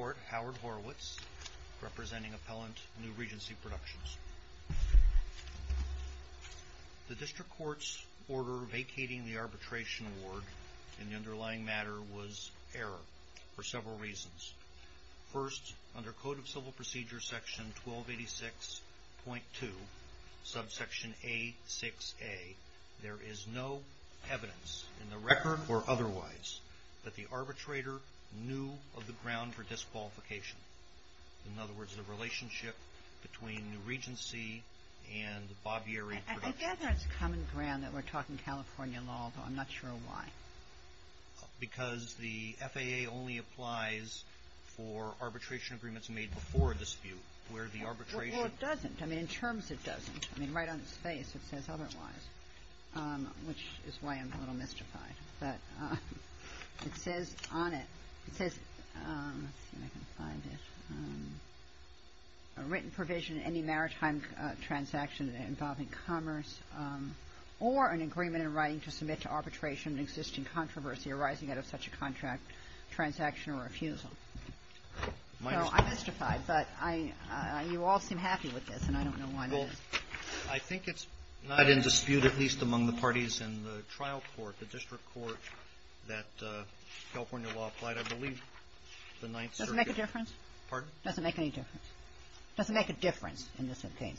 DISTRICT COURT ORDER VACATING THE ARBITRATION AWARD The District Court's order vacating the arbitration award in the underlying matter was error for several reasons. First, under Code of Civil Procedure Section 1286.2, subsection A6a, there is no evidence in the record or otherwise that the arbitrator knew of the ground for disqualification. In other words, the relationship between the Regency and the Bobyeri Productions. I gather it's common ground that we're talking California law, though I'm not sure why. Because the FAA only applies for arbitration agreements made before a dispute, where the arbitration... Well, it doesn't. I mean, in terms it doesn't. I mean, right on its face it says otherwise, which is why I'm a little mystified. But it says on it, it says, let's see if I can find it, a written provision in any maritime transaction involving commerce or an agreement in writing to submit to arbitration an existing controversy arising out of such a contract, transaction or refusal. So I'm mystified, but I you all seem happy with this, and I don't know why not. I think it's not in dispute, at least among the parties in the trial court, the district court, that California law applied, I believe, the 9th Circuit. Does it make a difference? Pardon? Does it make any difference? Does it make a difference in this case?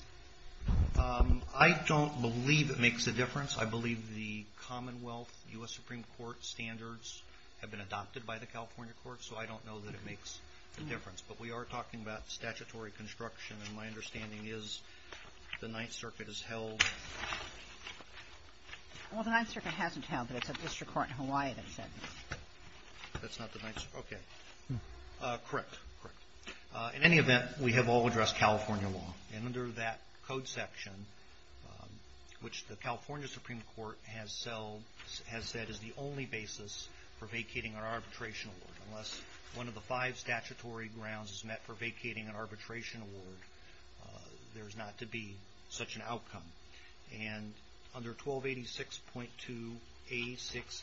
I don't believe it makes a difference. I believe the Commonwealth U.S. Supreme Court standards have been adopted by the California Court, so I don't know that it makes a difference. But we are talking about statutory construction, and my understanding is the 9th Circuit has held. Well, the 9th Circuit hasn't held, but it's a district court in Hawaii that's held. That's not the 9th Circuit. Okay. Correct. Correct. In any event, we have all addressed California law. And under that code section, which the California Supreme Court has said is the only basis for vacating an arbitration award, unless one of the five statutory grounds is met for vacating an arbitration award, there's not to be such an outcome. And under 1286.2A6A,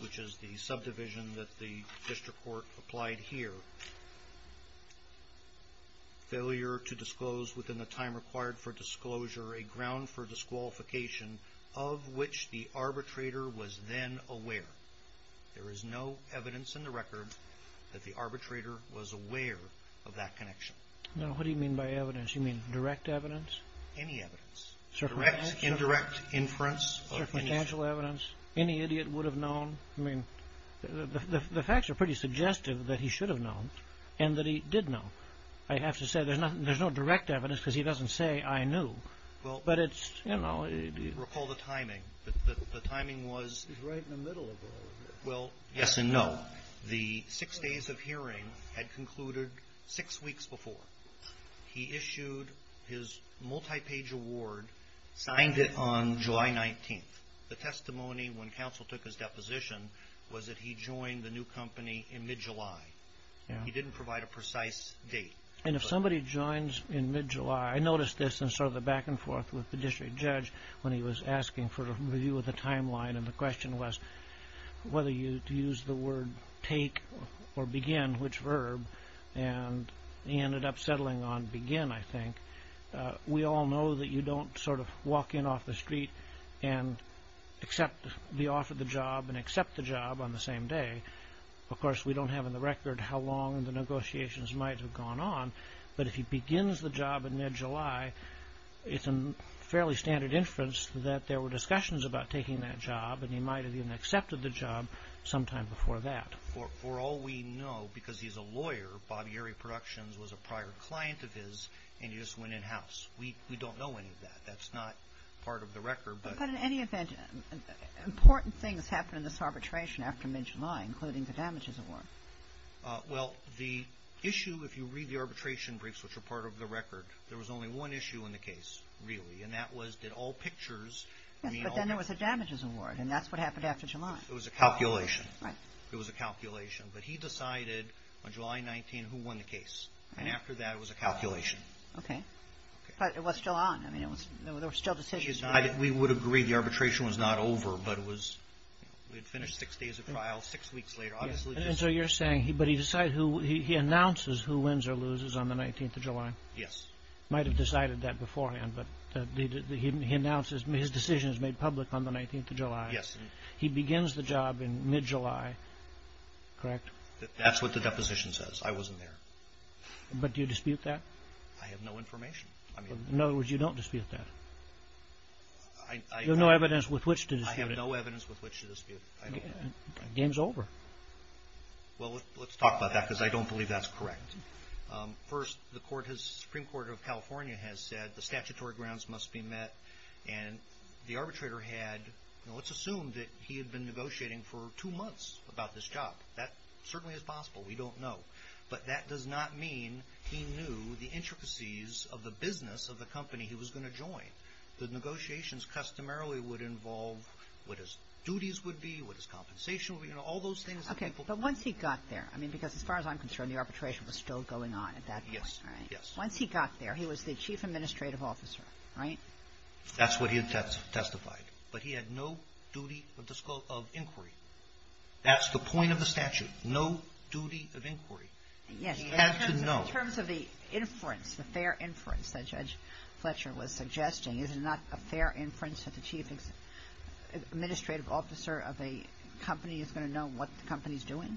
which is the subdivision that the district court applied here, failure to disclose within the time required for disclosure a ground for disqualification of which the There is no evidence in the record that the arbitrator was aware of that connection. Now, what do you mean by evidence? You mean direct evidence? Any evidence. Circumstantial evidence? Direct, indirect inference. Circumstantial evidence? Any idiot would have known? I mean, the facts are pretty suggestive that he should have known, and that he did know. I have to say, there's no direct evidence, because he doesn't say, I knew. But it's, you know... Recall the timing. The timing was... Well, yes and no. The six days of hearing had concluded six weeks before. He issued his multi-page award, signed it on July 19th. The testimony when counsel took his deposition was that he joined the new company in mid-July. He didn't provide a precise date. And if somebody joins in mid-July, I noticed this in sort of the back and forth with the district judge when he was asking for a review of the timeline. And the question was whether to use the word take or begin, which verb. And he ended up settling on begin, I think. We all know that you don't sort of walk in off the street and accept the offer of the job and accept the job on the same day. Of course, we don't have on the record how long the negotiations might have gone on. But if he begins the job in mid-July, it's a fairly standard inference that there were discussions about taking that job and he might have even accepted the job sometime before that. For all we know, because he's a lawyer, Bob Yerry Productions was a prior client of his and he just went in-house. We don't know any of that. That's not part of the record. But in any event, important things happened in this arbitration after mid-July, including the damages award. Well, the issue, if you read the arbitration briefs, which are part of the record, there was only one issue in the case, really, and that was did all pictures mean all damages? Yes, but then there was a damages award, and that's what happened after July. It was a calculation. Right. It was a calculation. But he decided on July 19 who won the case. And after that, it was a calculation. Okay. But it was still on. I mean, there were still decisions. We would agree the arbitration was not over, but we had finished six days of trial six weeks later. And so you're saying he announces who wins or loses on the 19th of July. Yes. He might have decided that beforehand, but he announces his decision is made public on the 19th of July. Yes. He begins the job in mid-July, correct? That's what the deposition says. I wasn't there. But do you dispute that? I have no information. In other words, you don't dispute that. You have no evidence with which to dispute it. I have no evidence with which to dispute it. Game's over. Well, let's talk about that because I don't believe that's correct. First, the Supreme Court of California has said the statutory grounds must be met. And the arbitrator had, let's assume that he had been negotiating for two months about this job. That certainly is possible. We don't know. But that does not mean he knew the intricacies of the business of the company he was going to join. The negotiations customarily would involve what his duties would be, what his compensation would be, you know, all those things. Okay. But once he got there, I mean, because as far as I'm concerned, the arbitration was still going on at that point, right? Yes. Once he got there, he was the chief administrative officer, right? That's what he had testified. But he had no duty of inquiry. That's the point of the statute, no duty of inquiry. He had to know. In terms of the inference, the fair inference that Judge Fletcher was suggesting, is it not a fair inference that the chief administrative officer of a company is going to know what the company is doing?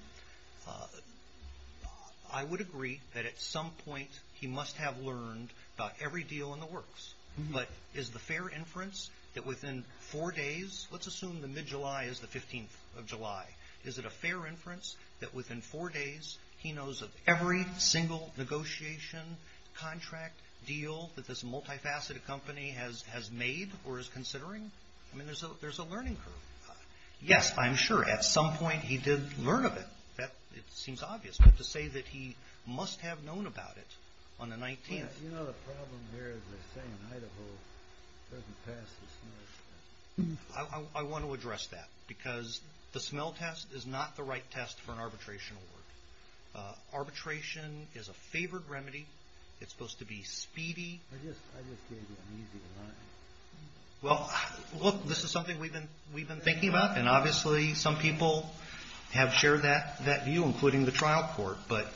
I would agree that at some point he must have learned about every deal in the works. But is the fair inference that within four days, let's assume the mid-July is the 15th of July, is it a fair inference that within four days he knows of every single negotiation, contract, deal, that this multifaceted company has made or is considering? I mean, there's a learning curve. Yes, I'm sure at some point he did learn of it. It seems obvious. But to say that he must have known about it on the 19th. You know the problem here is they say in Idaho it doesn't pass the smell test. I want to address that because the smell test is not the right test for an arbitration award. Arbitration is a favored remedy. It's supposed to be speedy. I just can't get an easy one. Well, look, this is something we've been thinking about, and obviously some people have shared that view, including the trial court. But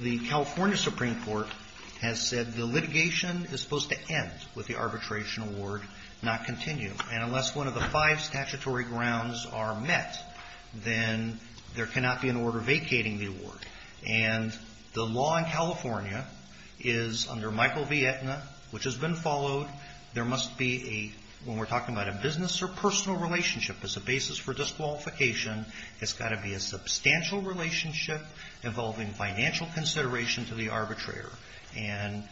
the California Supreme Court has said the litigation is supposed to end with the arbitration award, not continue. And unless one of the five statutory grounds are met, then there cannot be an order vacating the award. And the law in California is under Michael V. Etna, which has been followed. There must be a, when we're talking about a business or personal relationship as a basis for disqualification, it's got to be a substantial relationship involving financial consideration to the arbitrator. And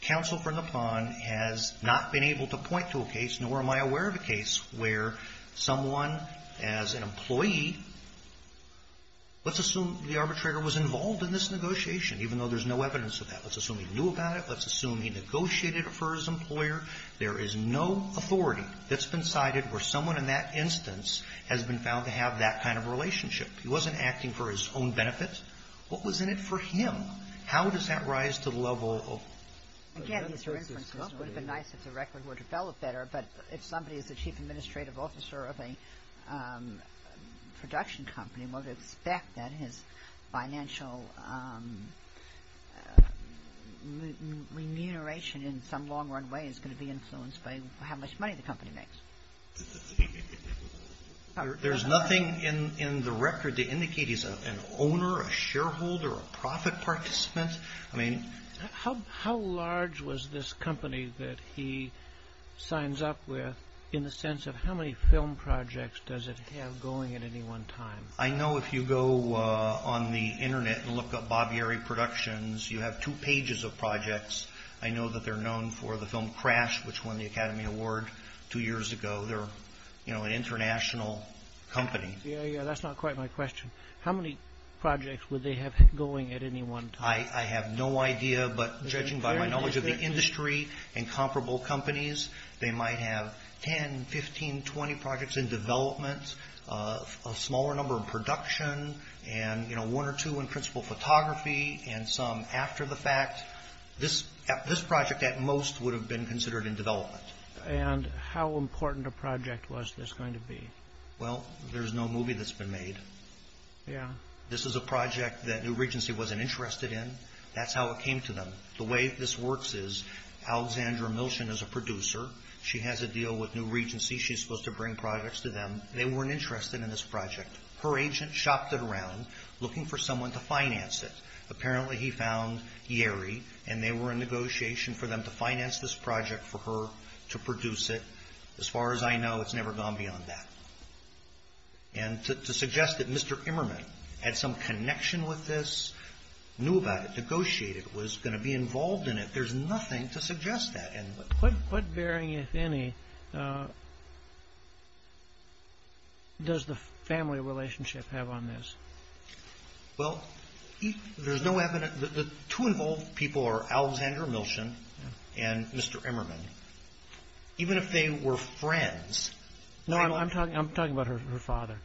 counsel for Nippon has not been able to point to a case, nor am I aware of a case, where someone as an employee, let's assume the arbitrator was involved in this negotiation, even though there's no evidence of that. Let's assume he knew about it. Let's assume he negotiated it for his employer. There is no authority that's been cited where someone in that instance has been found to have that kind of relationship. He wasn't acting for his own benefit. What was in it for him? How does that rise to the level of? Again, these are inferences. It would have been nice if the record were developed better, but if somebody is the chief administrative officer of a production company, one would expect that his financial remuneration in some long-run way is going to be influenced by how much money the company makes. There's nothing in the record to indicate he's an owner, a shareholder, a profit participant. I mean... How large was this company that he signs up with in the sense of how many film projects does it have going at any one time? I know if you go on the Internet and look up Bob Yerry Productions, you have two pages of projects. I know that they're known for the film Crash, which won the Academy Award two years ago. They're an international company. That's not quite my question. How many projects would they have going at any one time? I have no idea, but judging by my knowledge of the industry and comparable companies, they might have 10, 15, 20 projects in development, a smaller number in production, and one or two in principal photography, and some after the fact. This project, at most, would have been considered in development. And how important a project was this going to be? Well, there's no movie that's been made. Yeah. This is a project that New Regency wasn't interested in. That's how it came to them. The way this works is Alexandra Milchen is a producer. She has a deal with New Regency. She's supposed to bring projects to them. They weren't interested in this project. Her agent shopped it around looking for someone to finance it. Apparently, he found Yeri, and they were in negotiation for them to finance this project for her to produce it. As far as I know, it's never gone beyond that. And to suggest that Mr. Immerman had some connection with this, knew about it, negotiated, was going to be involved in it, there's nothing to suggest that. What bearing, if any, does the family relationship have on this? Well, there's no evidence. The two involved people are Alexandra Milchen and Mr. Immerman. Even if they were friends. No, I'm talking about her father.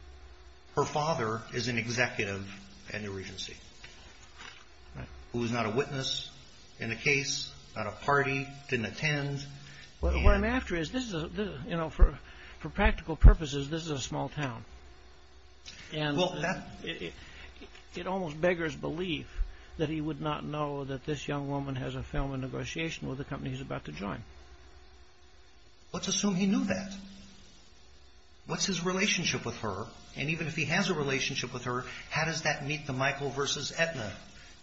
Her father is an executive at New Regency, who is not a witness in the case, not a party, didn't attend. What I'm after is, for practical purposes, this is a small town. And it almost beggars belief that he would not know that this young woman has a film in negotiation with the company he's about to join. Let's assume he knew that. What's his relationship with her? And even if he has a relationship with her, how does that meet the Michael v. Aetna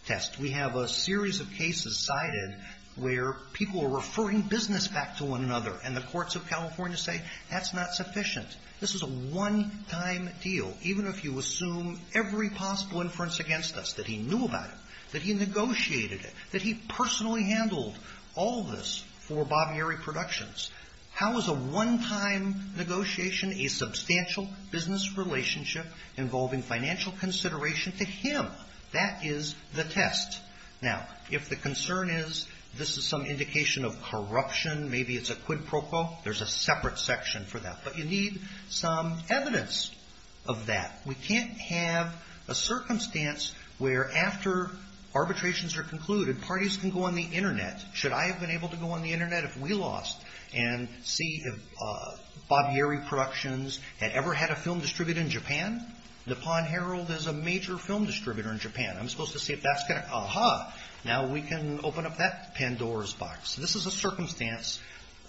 test? We have a series of cases cited where people are referring business back to one another, and the courts of California say that's not sufficient. This is a one-time deal. Even if you assume every possible inference against us, that he knew about it, that he negotiated it, that he personally handled all this for Bob Mary Productions, how is a one-time negotiation a substantial business relationship involving financial consideration to him? That is the test. Now, if the concern is this is some indication of corruption, maybe it's a quid pro quo, there's a separate section for that. But you need some evidence of that. We can't have a circumstance where after arbitrations are concluded, parties can go on the Internet. Should I have been able to go on the Internet if we lost and see if Bob Mary Productions had ever had a film distributed in Japan? Nippon Herald is a major film distributor in Japan. I'm supposed to see if that's going to... Aha! Now we can open up that Pandora's box. This is a circumstance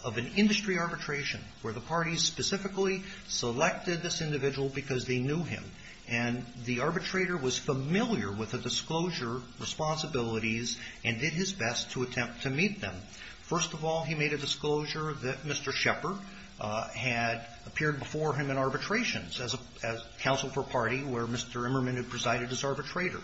of an industry arbitration where the parties specifically selected this individual because they knew him. And the arbitrator was familiar with the disclosure responsibilities and did his best to attempt to meet them. First of all, he made a disclosure that Mr. Shepard had appeared before him in arbitrations as counsel for a party where Mr. Emmerman had presided as arbitrator.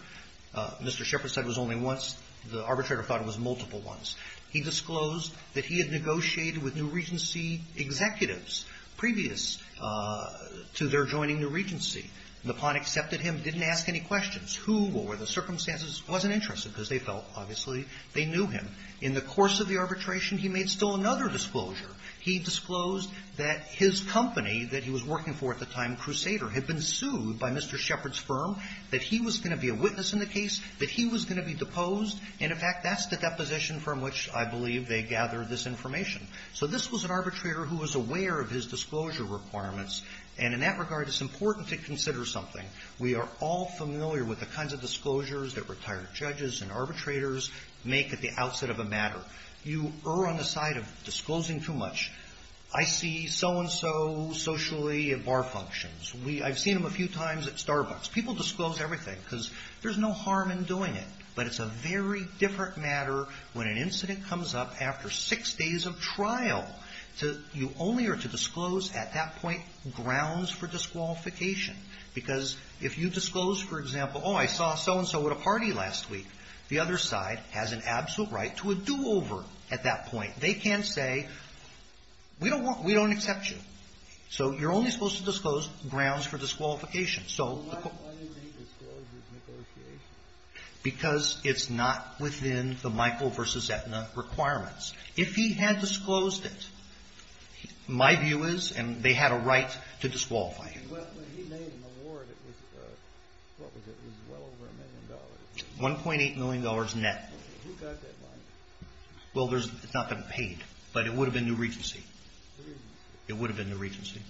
Mr. Shepard said it was only once. The arbitrator thought it was multiple ones. He disclosed that he had negotiated with New Regency executives previous to their joining New Regency. Nippon accepted him, didn't ask any questions. Who, what were the circumstances, wasn't interested because they felt, obviously, they knew him. In the course of the arbitration, he made still another disclosure. He disclosed that his company that he was working for at the time, Crusader, had been sued by Mr. Shepard's firm, that he was going to be a witness in the case, that he was going to be deposed. And, in fact, that's the deposition from which, I believe, they gathered this information. So this was an arbitrator who was aware of his disclosure requirements. And in that regard, it's important to consider something. We are all familiar with the kinds of disclosures that retired judges and arbitrators make at the outset of a matter. You err on the side of disclosing too much. I see so-and-so socially at bar functions. I've seen him a few times at Starbucks. People disclose everything because there's no harm in doing it. But it's a very different matter when an incident comes up after six days of trial. You only are to disclose, at that point, grounds for disqualification because if you disclose, for example, oh, I saw so-and-so at a party last week, the other side has an absolute right to a do-over at that point. They can't say, we don't want to, we don't accept you. So you're only supposed to disclose grounds for disqualification. So the court — Why do you think disclosure is negotiated? Because it's not within the Michael v. Aetna requirements. If he had disclosed it, my view is, and they had a right to disqualify him. When he made an award, it was, what was it, it was well over a million dollars. $1.8 million net. Who got that money? Well, it's not been paid, but it would have been New Regency. It would have been New Regency.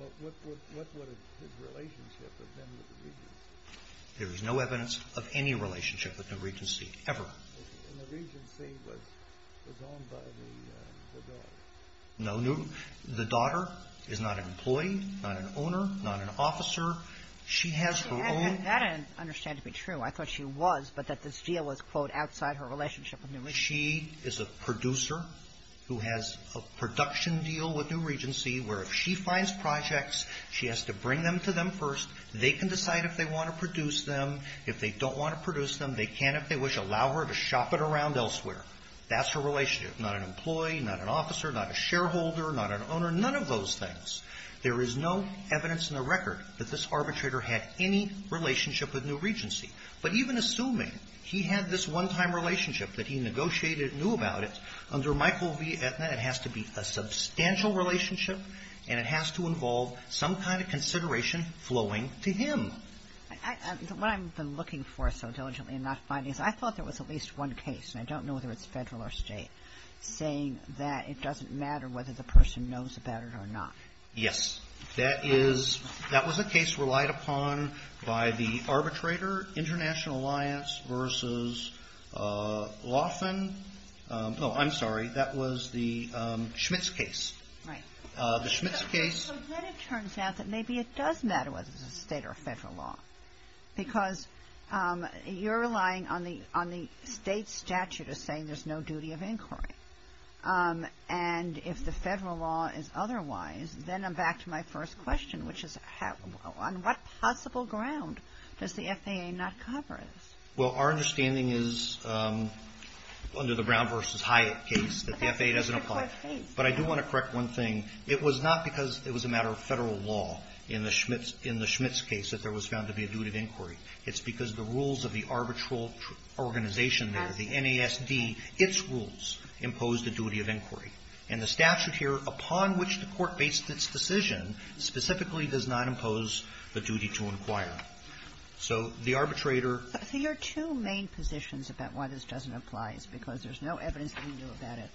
And what would his relationship have been with New Regency? There is no evidence of any relationship with New Regency, ever. And New Regency was owned by the daughter. No. The daughter is not an employee, not an owner, not an officer. She has her own — That I understand to be true. I thought she was, but that this deal was, quote, outside her relationship with New Regency. She is a producer who has a production deal with New Regency where if she finds projects, she has to bring them to them first. They can decide if they want to produce them. If they don't want to produce them, they can, if they wish, allow her to shop it around elsewhere. That's her relationship. Not an employee, not an officer, not a shareholder, not an owner, none of those things. There is no evidence in the record that this arbitrator had any relationship with New Regency. But even assuming he had this one-time relationship, that he negotiated and knew about it, under Michael v. Aetna, it has to be a substantial relationship and it has to involve some kind of consideration flowing to him. What I've been looking for so diligently and not finding is I thought there was at least one case, and I don't know whether it's Federal or State, saying that it doesn't matter whether the person knows about it or not. Yes. That is — that was a case relied upon by the arbitrator, International Alliance, versus Laughlin. Oh, I'm sorry. That was the Schmitz case. Right. The Schmitz case — So then it turns out that maybe it does matter whether it's a State or a Federal law. Because you're relying on the State statute as saying there's no duty of inquiry. And if the Federal law is otherwise, then I'm back to my first question, which is on what possible ground does the FAA not cover this? Well, our understanding is, under the Brown v. Hyatt case, that the FAA doesn't apply. But I do want to correct one thing. It was not because it was a matter of Federal law in the Schmitz — in the Schmitz case that there was found to be a duty of inquiry. It's because the rules of the arbitral organization there, the NASD, its rules impose the duty of inquiry. And the statute here, upon which the Court based its decision, specifically does not impose the duty to inquire. So the arbitrator — So your two main positions about why this doesn't apply is because there's no evidence that he knew about it,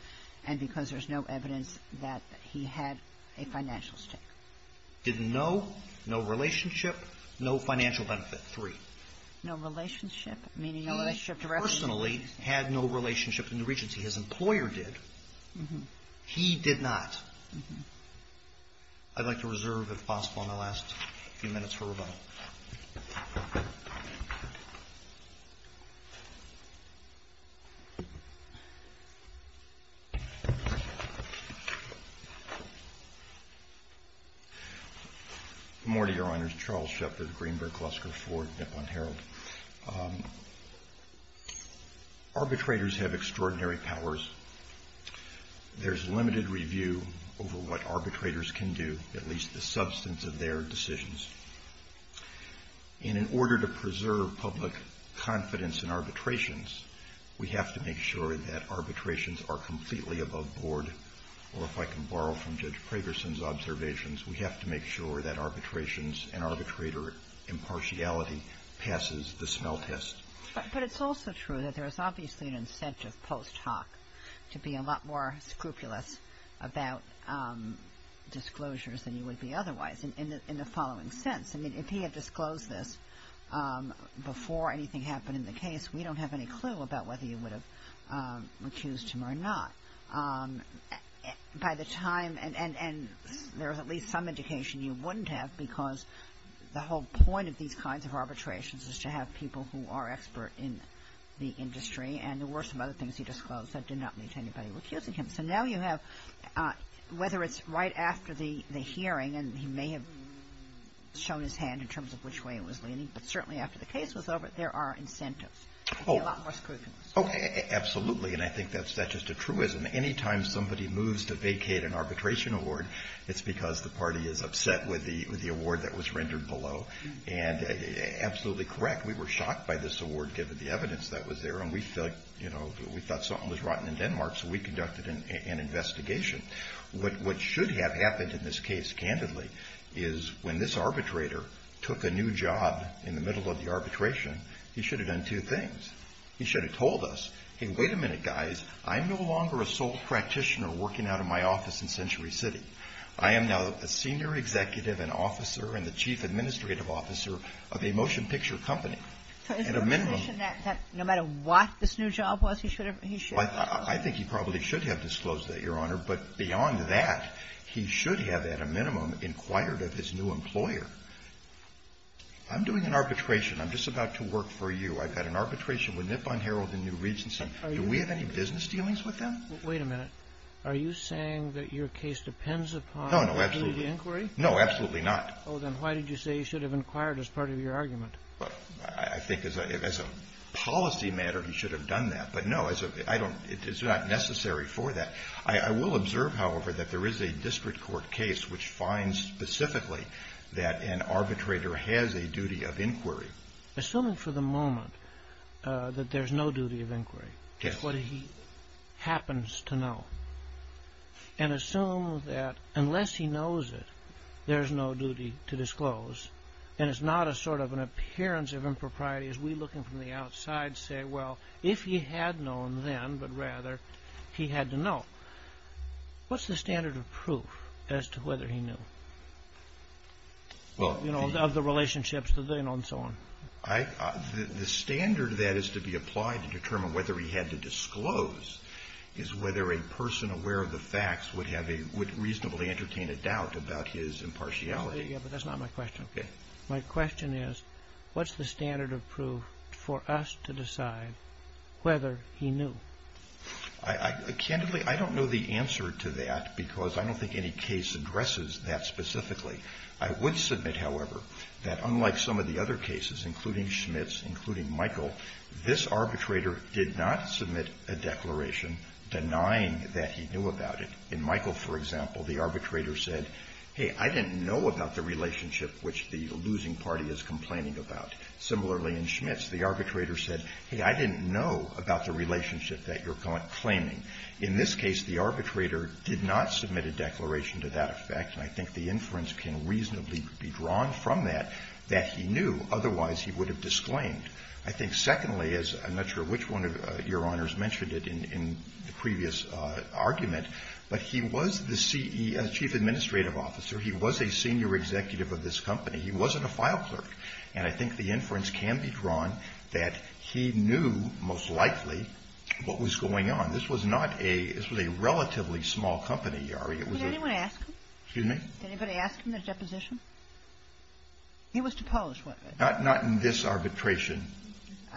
and because there's no evidence that he had a financial stake. Did no, no relationship, no financial benefit, three. No relationship, meaning no relationship directly? He personally had no relationship in the Regency. His employer did. Mm-hmm. He did not. Mm-hmm. I'd like to reserve, if possible, my last few minutes for rebuttal. Good morning, Your Honors. Charles Shepard, Greenberg, Lusker, Ford, Nippon, Herald. Arbitrators have extraordinary powers. There's limited review over what arbitrators can do, at least the substance of their decisions. And in order to preserve public confidence in arbitrations, we have to make sure that arbitrations are completely above board. Or if I can borrow from Judge Pragerson's observations, we have to make sure that arbitrations and arbitrator impartiality passes the smell test. But it's also true that there's obviously an incentive post hoc to be a lot more otherwise, in the following sense. I mean, if he had disclosed this before anything happened in the case, we don't have any clue about whether you would have recused him or not. By the time, and there's at least some indication you wouldn't have because the whole point of these kinds of arbitrations is to have people who are expert in the industry. And there were some other things he disclosed that did not the hearing, and he may have shown his hand in terms of which way it was leaning. But certainly after the case was over, there are incentives to be a lot more scrutinous. Oh, absolutely. And I think that's just a truism. Anytime somebody moves to vacate an arbitration award, it's because the party is upset with the award that was rendered below. And absolutely correct. We were shocked by this award, given the evidence that was there. And we felt, you know, we thought something was rotten in Denmark, so we conducted an investigation. What should have happened in this case, candidly, is when this arbitrator took a new job in the middle of the arbitration, he should have done two things. He should have told us, hey, wait a minute, guys. I'm no longer a sole practitioner working out of my office in Century City. I am now a senior executive and officer and the chief administrative officer of a motion picture company. At a minimum. I think he probably should have disclosed that, Your Honor. But beyond that, he should have, at a minimum, inquired of his new employer. I'm doing an arbitration. I'm just about to work for you. I've got an arbitration with Nippon Herald and New Regency. Do we have any business dealings with them? Wait a minute. Are you saying that your case depends upon the inquiry? No, absolutely not. Oh, then why did you say he should have inquired as part of your argument? Well, I think as a policy matter, he should have done that. But no, it's not necessary for that. I will observe, however, that there is a district court case which finds specifically that an arbitrator has a duty of inquiry. Assuming for the moment that there's no duty of inquiry. Yes. It's what he happens to know. And assume that unless he knows it, there's no duty to disclose. And it's not a sort of an appearance of impropriety as we, looking from the outside, say, well, if he had known then, but rather he had to know. What's the standard of proof as to whether he knew? Well, you know, of the relationships that they know and so on. The standard that is to be applied to determine whether he had to disclose is whether a person aware of the facts would reasonably entertain a doubt about his impartiality. Yes, but that's not my question. Okay. My question is, what's the standard of proof for us to decide whether he knew? Candidly, I don't know the answer to that because I don't think any case addresses that specifically. I would submit, however, that unlike some of the other cases, including Schmitt's, including Michael, this arbitrator did not submit a declaration denying that he knew about it. In Michael, for example, the arbitrator said, hey, I didn't know about the relationship which the losing party is complaining about. Similarly, in Schmitt's, the arbitrator said, hey, I didn't know about the relationship that you're claiming. In this case, the arbitrator did not submit a declaration to that effect, and I think the inference can reasonably be drawn from that, that he knew, otherwise he would have disclaimed. I think, secondly, as I'm not sure which one of Your Honors mentioned it in the previous argument, but he was the chief administrative officer. He was a senior executive of this company. He wasn't a file clerk, and I think the inference can be drawn that he knew most likely what was going on. This was not a – this was a relatively small company, Yari. It was a – Did anyone ask him? Excuse me? Did anybody ask him the deposition? He was to Polish weapon. Not in this arbitration.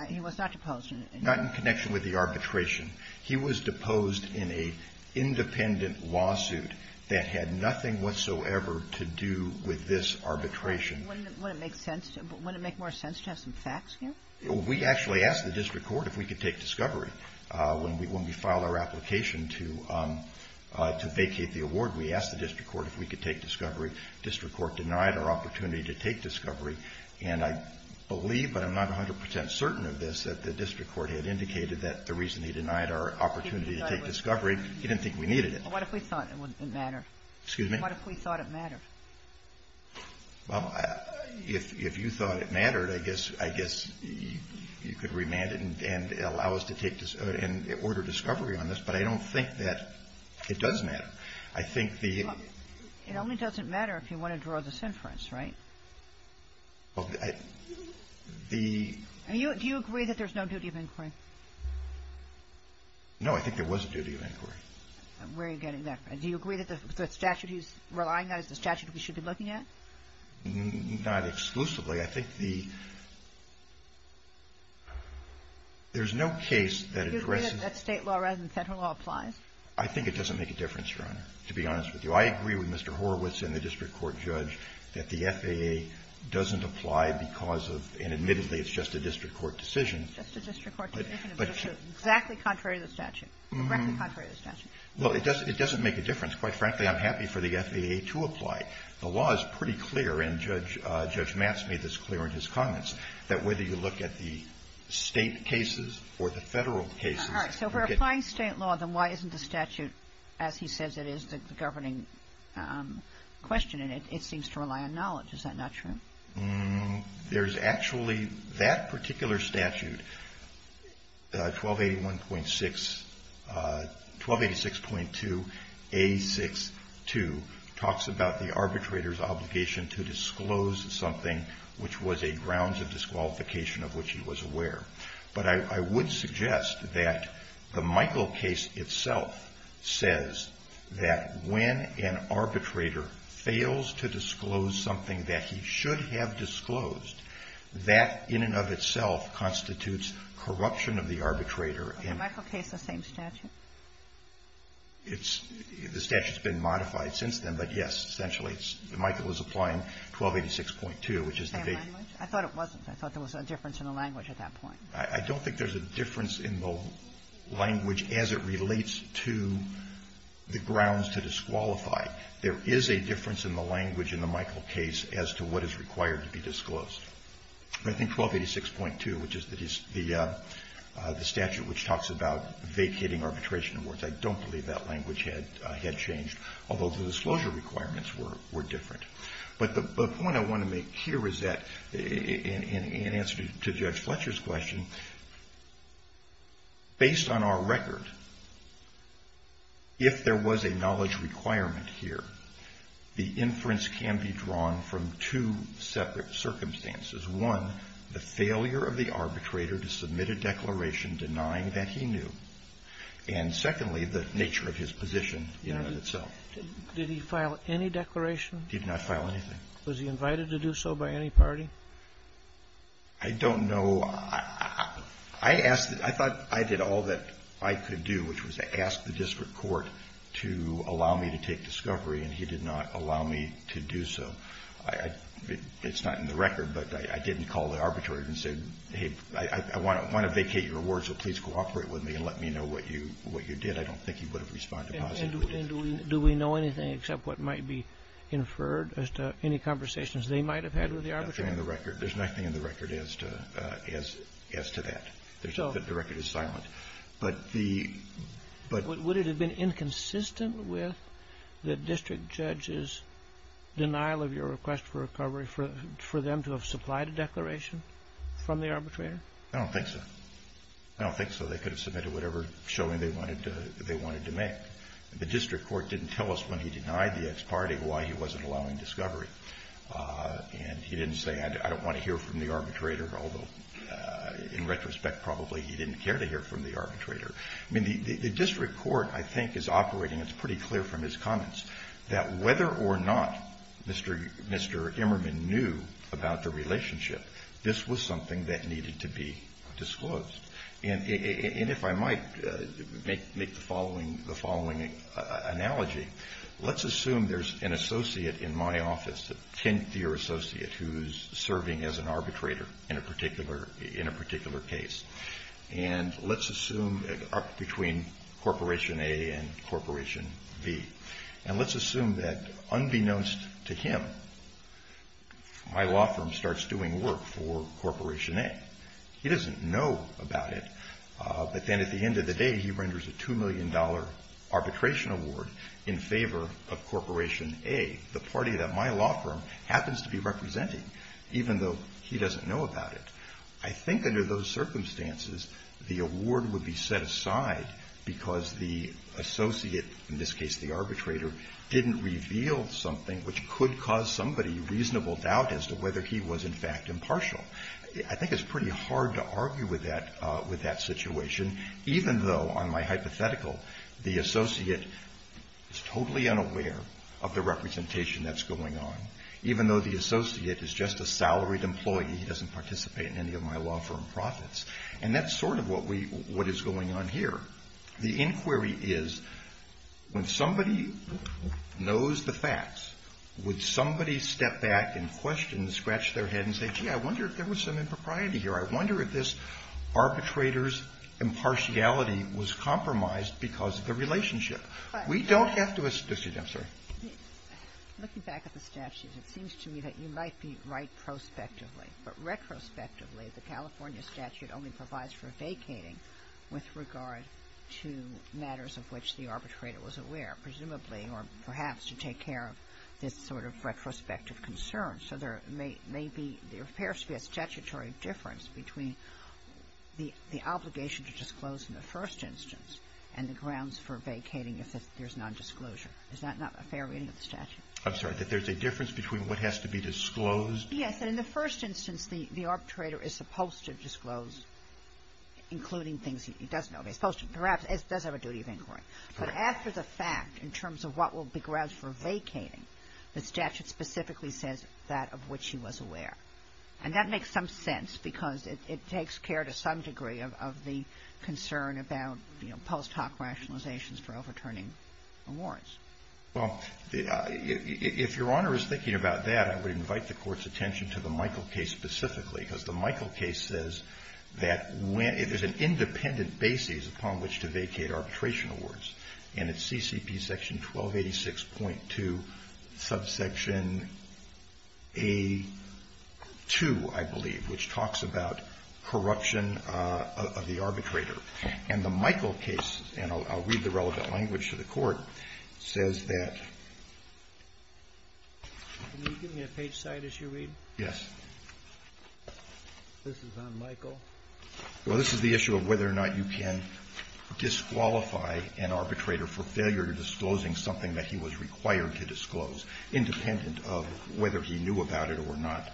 He was not deposed. Not in connection with the arbitration. He was deposed in an independent lawsuit that had nothing whatsoever to do with this arbitration. Wouldn't it make sense – wouldn't it make more sense to have some facts here? We actually asked the district court if we could take discovery. When we filed our application to vacate the award, we asked the district court if we could take discovery. And I believe, but I'm not 100 percent certain of this, that the district court had indicated that the reason he denied our opportunity to take discovery, he didn't think we needed it. What if we thought it mattered? Excuse me? What if we thought it mattered? Well, if you thought it mattered, I guess – I guess you could remand it and allow us to take – and order discovery on this, but I don't think that it does matter. I think the – It only doesn't matter if you want to draw this inference, right? Well, the – Do you agree that there's no duty of inquiry? No, I think there was a duty of inquiry. Where are you getting that from? Do you agree that the statute he's relying on is the statute we should be looking at? Not exclusively. I think the – there's no case that addresses – Do you agree that state law rather than federal law applies? I think it doesn't make a difference, Your Honor, to be honest with you. I agree with Mr. Horowitz and the district court judge that the FAA doesn't apply because of – and admittedly, it's just a district court decision. It's just a district court decision. But it's exactly contrary to the statute. Correctly contrary to the statute. Well, it doesn't make a difference. Quite frankly, I'm happy for the FAA to apply. The law is pretty clear, and Judge – Judge Matz made this clear in his comments, that whether you look at the state cases or the federal cases, you get – you get the same answer. And I think that's a good question, and it seems to rely on knowledge. Is that not true? There's actually – that particular statute, 1281.6 – 1286.2A62, talks about the arbitrator's obligation to disclose something which was a grounds of disqualification of which he was aware. But I would suggest that the Michael case itself says that when an arbitrator fails to disclose something that he should have disclosed, that in and of itself constitutes corruption of the arbitrator. Is the Michael case the same statute? It's – the statute's been modified since then. But, yes, essentially, it's – Michael is applying 1286.2, which is the – The same language? I thought it wasn't. I thought there was a difference in the language at that point. I don't think there's a difference in the language as it relates to the grounds to disqualify. There is a difference in the language in the Michael case as to what is required to be disclosed. I think 1286.2, which is the – the statute which talks about vacating arbitration awards, I don't believe that language had – had changed, although the disclosure requirements were – were different. But the point I want to make here is that, in answer to Judge Fletcher's question, based on our record, if there was a knowledge requirement here, the inference can be drawn from two separate circumstances. One, the failure of the arbitrator to submit a declaration denying that he knew. And, secondly, the nature of his position in and of itself. Did he file any declaration? He did not file anything. Was he invited to do so by any party? I don't know. I asked – I thought I did all that I could do, which was to ask the district court to allow me to take discovery, and he did not allow me to do so. I – it's not in the record, but I didn't call the arbitrator and said, hey, I want to – I want to vacate your award, so please cooperate with me and let me know what you – what you did. I don't think he would have responded positively. And do we know anything except what might be inferred as to any conversations they might have had with the arbitrator? Nothing in the record. There's nothing in the record as to – as to that. The record is silent. But the – but – Would it have been inconsistent with the district judge's denial of your request for recovery for them to have supplied a declaration from the arbitrator? I don't think so. I don't think so. They could have submitted whatever showing they wanted – they wanted to make. The district court didn't tell us when he denied the ex parte why he wasn't allowing discovery. And he didn't say, I don't want to hear from the arbitrator, although in retrospect probably he didn't care to hear from the arbitrator. I mean, the district court, I think, is operating, it's pretty clear from his comments, that whether or not Mr. Emmerman knew about the relationship, this was something that needed to be disclosed. And if I might make the following – the following analogy. Let's assume there's an associate in my office, a 10th year associate, who's serving as an arbitrator in a particular – in a particular case. And let's assume between Corporation A and Corporation B. And let's assume that unbeknownst to him, my law firm starts doing work for Corporation A. He doesn't know about it. But then at the end of the day, he renders a $2 million arbitration award in favor of Corporation A, the party that my law firm happens to be representing, even though he doesn't know about it. I think under those circumstances, the award would be set aside because the associate, in this case the arbitrator, didn't reveal something which could cause somebody reasonable doubt as to whether he was in fact impartial. I think it's pretty hard to argue with that – with that situation, even though on my hypothetical, the associate is totally unaware of the representation that's going on, even though the associate is just a salaried employee. He doesn't participate in any of my law firm profits. And that's sort of what we – what is going on here. The inquiry is, when somebody knows the facts, would somebody step back and question, scratch their head and say, gee, I wonder if there was some impropriety here. I wonder if this arbitrator's impartiality was compromised because of the relationship. We don't have to assume – excuse me. I'm sorry. Ginsburg. Looking back at the statute, it seems to me that you might be right prospectively. But retrospectively, the California statute only provides for vacating with regard to matters of which the arbitrator was aware, presumably or perhaps to take care of this sort of retrospective concern. So there may be – there appears to be a statutory difference between the obligation to disclose in the first instance and the grounds for vacating if there's nondisclosure. Is that not a fair reading of the statute? I'm sorry. That there's a difference between what has to be disclosed? Yes. In the first instance, the arbitrator is supposed to disclose, including things he doesn't know. He's supposed to – perhaps it does have a duty of inquiry. But after the fact, in terms of what will be grounds for vacating, the statute specifically says that of which he was aware. And that makes some sense because it takes care to some degree of the concern about, you know, post hoc rationalizations for overturning awards. Well, if Your Honor is thinking about that, I would invite the Court's attention to the Michael case specifically because the Michael case says that when – it is an arbitration case. And it's CCP section 1286.2, subsection A2, I believe, which talks about corruption of the arbitrator. And the Michael case – and I'll read the relevant language to the Court – says that – Can you give me a page side as you read? Yes. This is on Michael. Well, this is the issue of whether or not you can disqualify an arbitrator for failure to disclose something that he was required to disclose, independent of whether he knew about it or not.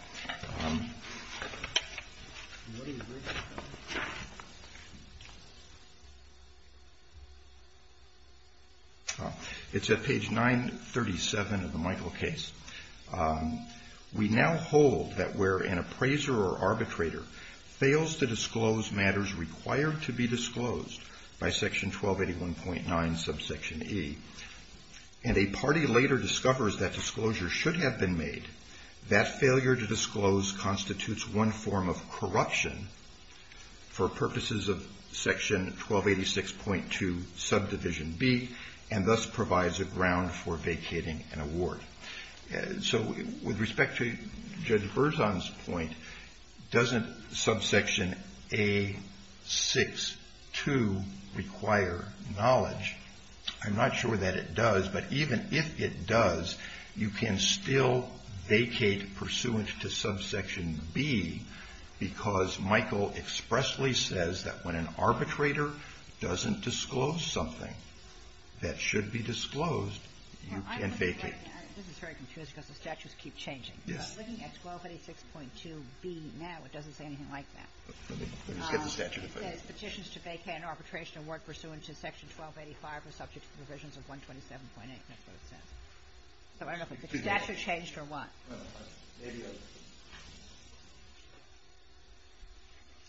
It's at page 937 of the Michael case. We now hold that where an appraiser or arbitrator fails to disclose matters required to be disclosed by section 1281.9, subsection E, and a party later discovers that disclosure should have been made, that failure to disclose constitutes one form of corruption for purposes of section 1286.2, subdivision B, and thus provides a ground for vacating an award. So with respect to Judge Berzon's point, doesn't subsection A6.2 require knowledge? I'm not sure that it does. But even if it does, you can still vacate pursuant to subsection B because Michael expressly says that when an arbitrator doesn't disclose something that should be disclosed, you can vacate. This is very confusing because the statutes keep changing. Yes. Looking at 1286.2B now, it doesn't say anything like that. Let me just get the statute. It says petitions to vacate an arbitration award pursuant to section 1285 are subject to provisions of 127.8. That's what it says. So I don't know if the statute changed or what.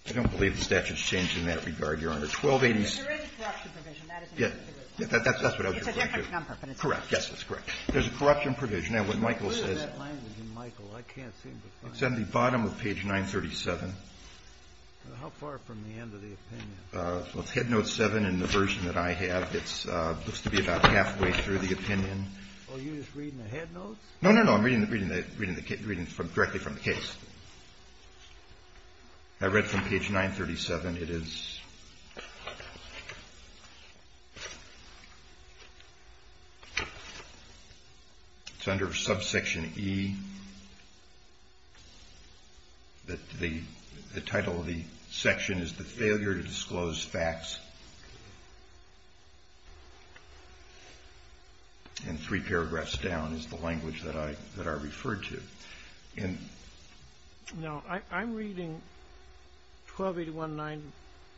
I don't believe the statute's changed in that regard, Your Honor. 1286. There is a corruption provision. That's what I was going to do. It's a different number. Correct. Yes, that's correct. There's a corruption provision. Now, what Michael says. What is that language in Michael? I can't seem to find it. It's on the bottom of page 937. How far from the end of the opinion? It's head note 7 in the version that I have. It looks to be about halfway through the opinion. Are you just reading the head notes? No, no, no. I'm reading directly from the case. I read from page 937. It's under subsection E. The title of the section is The Failure to Disclose Facts. And three paragraphs down is the language that I referred to. Now, I'm reading 1281.9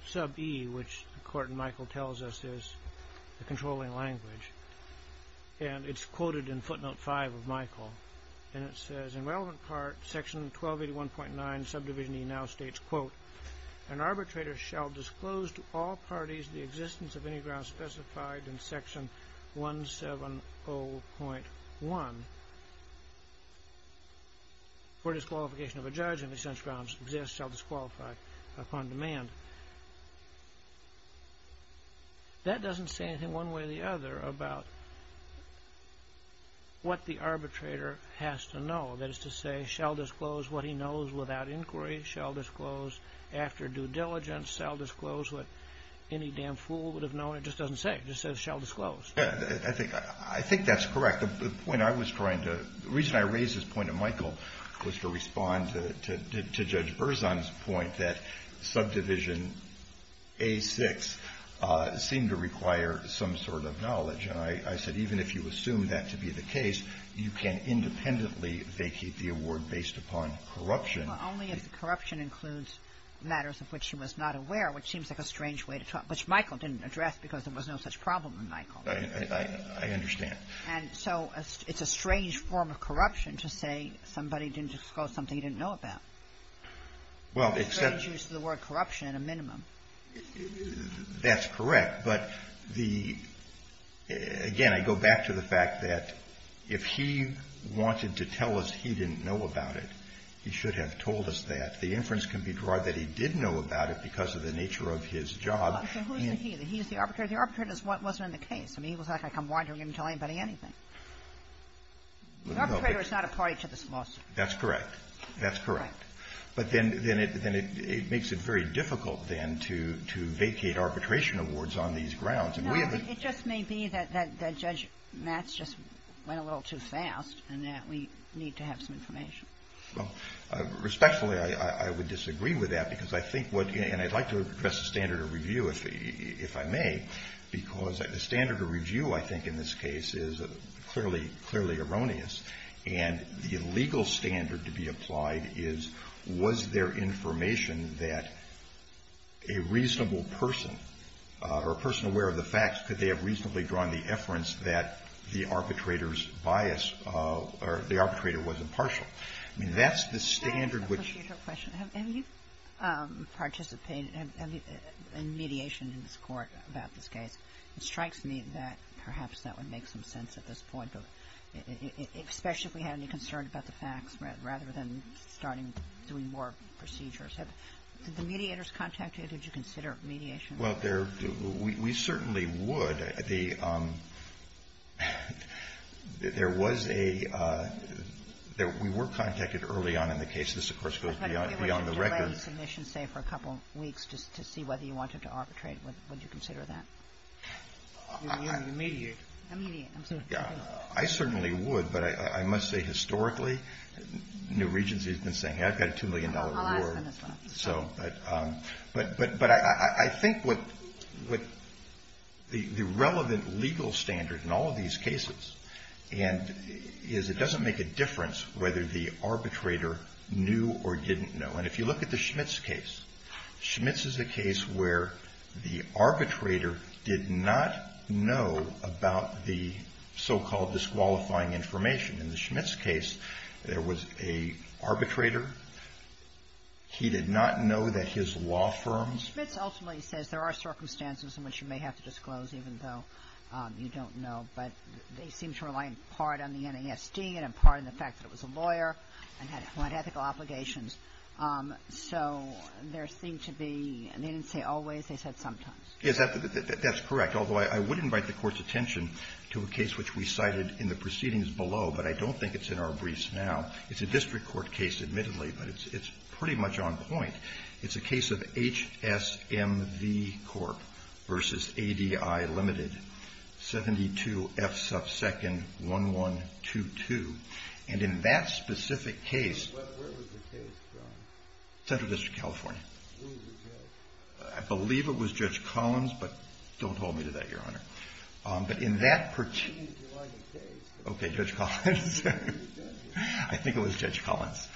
sub E, which the court in Michael tells us is the controlling language. And it's quoted in footnote 5 of Michael. And it says, in relevant part, section 1281.9 subdivision E now states, an arbitrator shall disclose to all parties the existence of any grounds specified in section 170.1 for disqualification of a judge in the sense grounds exist shall disqualify upon demand. That doesn't say anything one way or the other about what the arbitrator has to know. That is to say, shall disclose what he knows without inquiry. Shall disclose after due diligence. Shall disclose what any damn fool would have known. It just doesn't say. It just says shall disclose. I think that's correct. The point I was trying to the reason I raised this point to Michael was to respond to Judge Berzon's point that subdivision A6 seemed to require some sort of knowledge. And I said, even if you assume that to be the case, you can independently vacate the award based upon corruption. Well, only if the corruption includes matters of which he was not aware, which seems like a strange way to talk. Which Michael didn't address because there was no such problem with Michael. I understand. And so it's a strange form of corruption to say somebody didn't disclose something he didn't know about. Well, except. Strange use of the word corruption at a minimum. That's correct. But the, again, I go back to the fact that if he wanted to tell us he didn't know about it, he should have told us that. The inference can be drawn that he did know about it because of the nature of his job. So who is the he? The he is the arbitrator? The arbitrator wasn't in the case. I mean, he was not going to come wandering in and tell anybody anything. The arbitrator is not a party to this lawsuit. That's correct. That's correct. But then it makes it very difficult, then, to vacate arbitration awards on these grounds. No. It just may be that Judge Matz just went a little too fast and that we need to have some information. Well, respectfully, I would disagree with that because I think what — and I'd like to address the standard of review, if I may, because the standard of review, I think, in this case is clearly erroneous. And the illegal standard to be applied is, was there information that a reasonable person or a person aware of the facts could they have reasonably drawn the inference that the arbitrator's bias or the arbitrator was impartial. I mean, that's the standard which — Can I ask a procedural question? Have you participated in mediation in this Court about this case? It strikes me that perhaps that would make some sense at this point, especially if we had any concern about the facts rather than starting doing more procedures. Did the mediators contact you? Did you consider mediation? Well, there — we certainly would. There was a — we were contacted early on in the case. This, of course, goes beyond the record. I'm sorry. I certainly would, but I must say, historically, New Regency has been saying, hey, I've got a $2 million reward. I'll ask on this one. But I think what the relevant legal standard in all of these cases is it doesn't make a difference whether the arbitrator knew or didn't know. And if you look at the Schmitz case, Schmitz is a case where the arbitrator did not know about the so-called disqualifying information. In the Schmitz case, there was an arbitrator. He did not know that his law firm's — Schmitz ultimately says there are circumstances in which you may have to disclose even though you don't know, but they seem to rely in part on the NASD and in part on the fact that it was a lawyer and had ethical obligations. So there seemed to be — they didn't say always. They said sometimes. That's correct, although I would invite the Court's attention to a case which we cited in the proceedings below, but I don't think it's in our briefs now. It's a district court case, admittedly, but it's pretty much on point. It's a case of HSMV Corp. v. ADI Ltd., 72F sub second 1122. And in that specific case — Where was the case from? Central District, California. Who was the judge? I believe it was Judge Collins, but don't hold me to that, Your Honor. But in that — We need to find the case. Okay. Judge Collins. I think it was Judge Collins.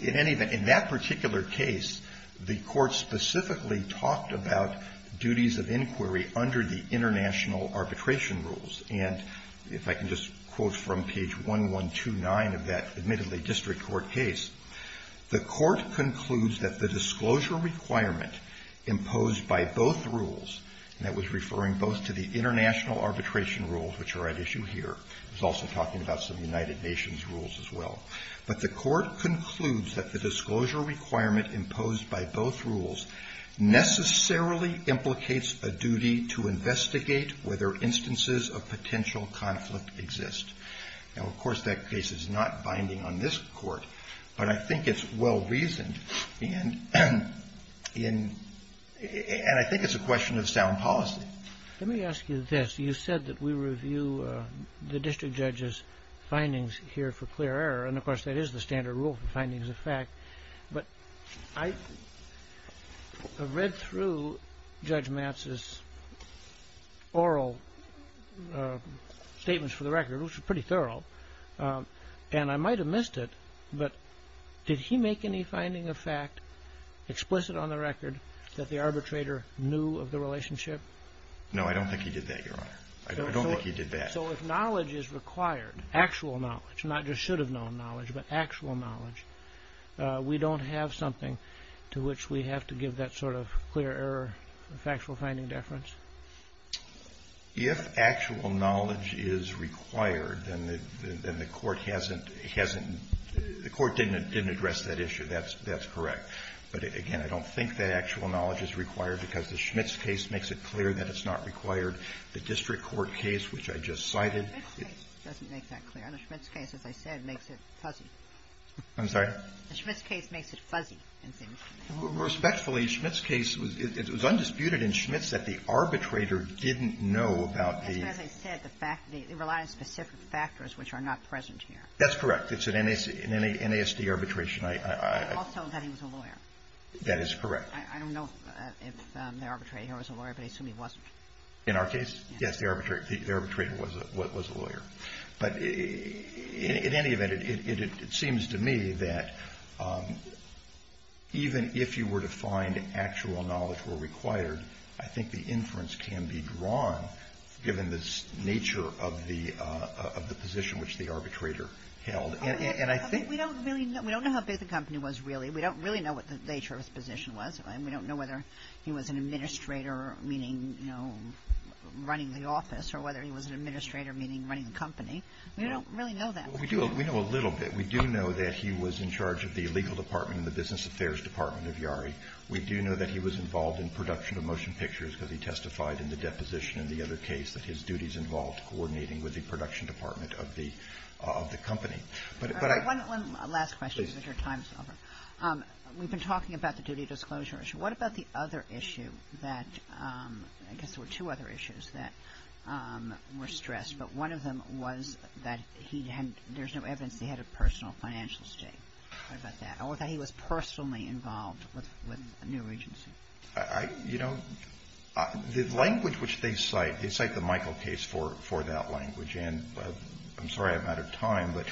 In any event, in that particular case, the Court specifically talked about duties of inquiry under the international arbitration rules. And if I can just quote from page 1129 of that, admittedly, district court case, the Court concludes that the disclosure requirement imposed by both rules — and that was referring both to the international arbitration rules, which are at issue here. It was also talking about some United Nations rules as well. But the Court concludes that the disclosure requirement imposed by both rules necessarily implicates a duty to investigate whether instances of potential conflict exist. Now, of course, that case is not binding on this Court, but I think it's well-reasoned. And I think it's a question of sound policy. Let me ask you this. You said that we review the district judge's findings here for clear error. And, of course, that is the standard rule for findings of fact. But I read through Judge Matz's oral statements for the record, which were pretty thorough, and I might have missed it, but did he make any finding of fact explicit on the record that the arbitrator knew of the relationship? No, I don't think he did that, Your Honor. I don't think he did that. So if knowledge is required, actual knowledge, not just should-have-known knowledge, but actual knowledge, we don't have something to which we have to give that sort of clear error factual finding deference? If actual knowledge is required, then the Court hasn't — the Court didn't address that issue. That's correct. But, again, I don't think that actual knowledge is required because the Schmitz case makes it clear that it's not required. The district court case, which I just cited — The Schmitz case doesn't make that clear. The Schmitz case, as I said, makes it fuzzy. I'm sorry? The Schmitz case makes it fuzzy. Respectfully, Schmitz case was — it was undisputed in Schmitz that the arbitrator didn't know about the — As I said, the fact — it relied on specific factors which are not present here. That's correct. It's an NASD arbitration. Also that he was a lawyer. That is correct. I don't know if the arbitrator here was a lawyer, but I assume he wasn't. In our case, yes, the arbitrator was a lawyer. But in any event, it seems to me that even if you were to find actual knowledge where required, I think the inference can be drawn given the nature of the position which the arbitrator held. And I think — We don't really know. We don't know how big the company was, really. We don't really know what the nature of his position was. And we don't know whether he was an administrator, meaning, you know, running the office, or whether he was an administrator, meaning running the company. We don't really know that. Well, we do. We know a little bit. We do know that he was in charge of the legal department and the business affairs department of Yari. We do know that he was involved in production of motion pictures because he testified in the deposition in the other case that his duties involved coordinating with the production department of the company. But I — One last question, because your time is over. We've been talking about the duty disclosure issue. What about the other issue that — I guess there were two other issues that were stressed, but one of them was that he had — there's no evidence that he had a personal financial state. What about that? Or that he was personally involved with New Regency? You know, the language which they cite, they cite the Michael case for that language. And I'm sorry I'm out of time, but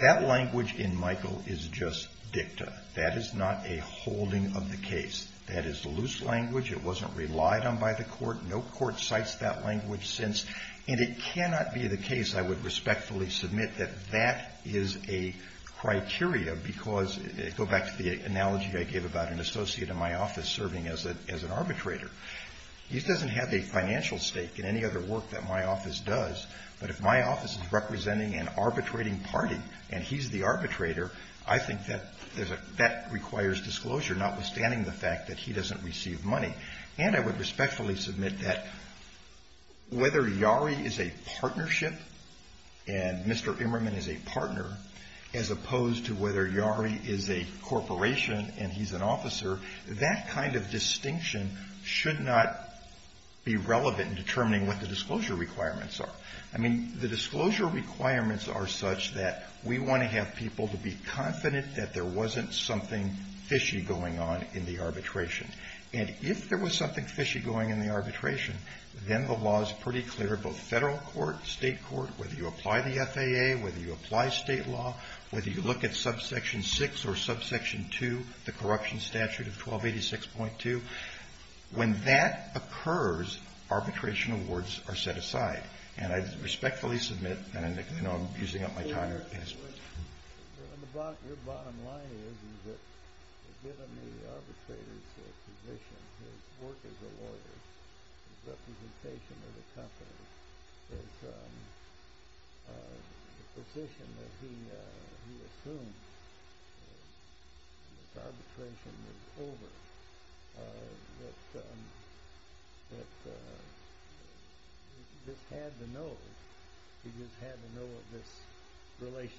that language in Michael is just dicta. That is not a holding of the case. That is loose language. It wasn't relied on by the court. No court cites that language since. And it cannot be the case, I would respectfully submit, that that is a criteria because — go back to the analogy I gave about an associate in my office serving as an arbitrator. He doesn't have a financial stake in any other work that my office does, but if my office is representing an arbitrating party and he's the arbitrator, I think that requires disclosure, notwithstanding the fact that he doesn't receive money. And I would respectfully submit that whether Yarry is a partnership and Mr. Yarry is a corporation and he's an officer, that kind of distinction should not be relevant in determining what the disclosure requirements are. I mean, the disclosure requirements are such that we want to have people to be confident that there wasn't something fishy going on in the arbitration. And if there was something fishy going on in the arbitration, then the law is pretty clear, both Federal court, State court, whether you apply the FAA, whether you apply Section 6 or Subsection 2, the Corruption Statute of 1286.2. When that occurs, arbitration awards are set aside. And I respectfully submit — and I know I'm using up my time here. Your bottom line is that given the arbitrator's position, his work as a lawyer, his representation of the company, his position that he assumes that arbitration is over, that he just had to know of this relationship.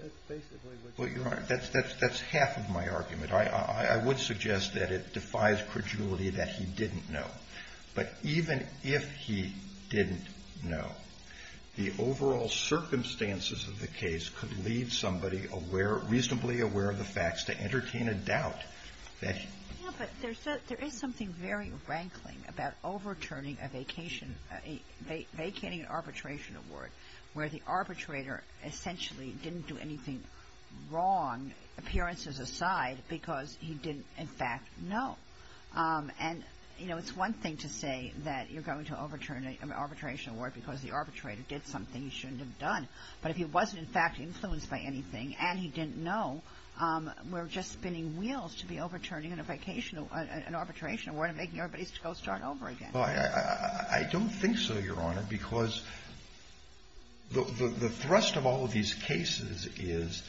That's basically what you're saying. Well, Your Honor, that's half of my argument. I would suggest that it defies credulity that he didn't know. But even if he didn't know, the overall circumstances of the case could lead somebody reasonably aware of the facts to entertain a doubt that he — Yeah, but there is something very rankling about overturning a vacation — vacating an arbitration award where the arbitrator essentially didn't do anything wrong, appearances aside, because he didn't, in fact, know. And, you know, it's one thing to say that you're going to overturn an arbitration award because the arbitrator did something he shouldn't have done. But if he wasn't, in fact, influenced by anything and he didn't know, we're just spinning wheels to be overturning an arbitration award and making everybody go start over again. Well, I don't think so, Your Honor, because the thrust of all of these cases is,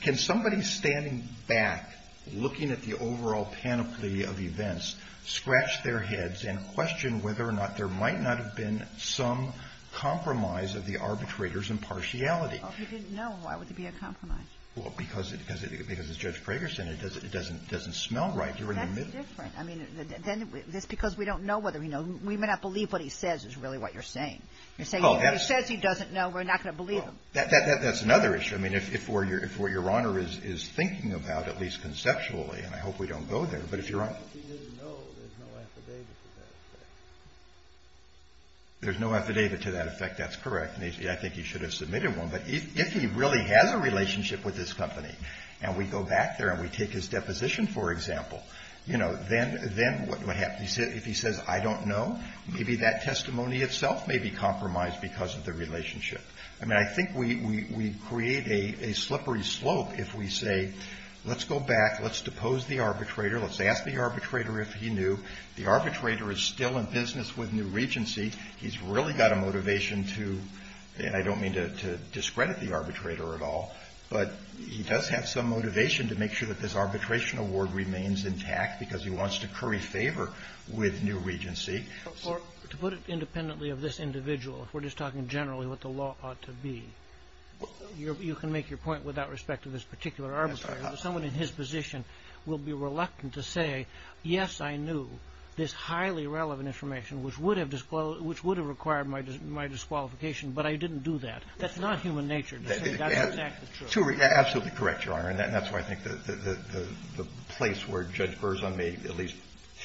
can somebody standing back, looking at the overall panoply of events, scratch their heads and question whether or not there might not have been some compromise of the arbitrator's impartiality? Well, if he didn't know, why would there be a compromise? Well, because as Judge Prager said, it doesn't smell right. You're in the middle. That's different. I mean, then it's because we don't know whether he knows. We may not believe what he says is really what you're saying. You're saying if he says he doesn't know, we're not going to believe him. Well, that's another issue. I mean, if what Your Honor is thinking about, at least conceptually, and I hope we don't go there, but if Your Honor — If he didn't know, there's no affidavit to that effect. There's no affidavit to that effect. That's correct. And I think you should have submitted one. But if he really has a relationship with this company, and we go back there and we take his deposition, for example, you know, then what happens? If he says, I don't know, maybe that testimony itself may be compromised because of the relationship. I mean, I think we create a slippery slope if we say, let's go back. Let's depose the arbitrator. Let's ask the arbitrator if he knew. The arbitrator is still in business with New Regency. He's really got a motivation to — and I don't mean to discredit the arbitrator at all, but he does have some motivation to make sure that this arbitration award remains intact because he wants to curry favor with New Regency. To put it independently of this individual, if we're just talking generally what the law ought to be, you can make your point without respect to this particular arbitrator. Someone in his position will be reluctant to say, yes, I knew this highly relevant information, which would have required my disqualification, but I didn't do that. That's not human nature to say that's exactly true. Absolutely correct, Your Honor. And that's why I think the place where Judge Berzon may at least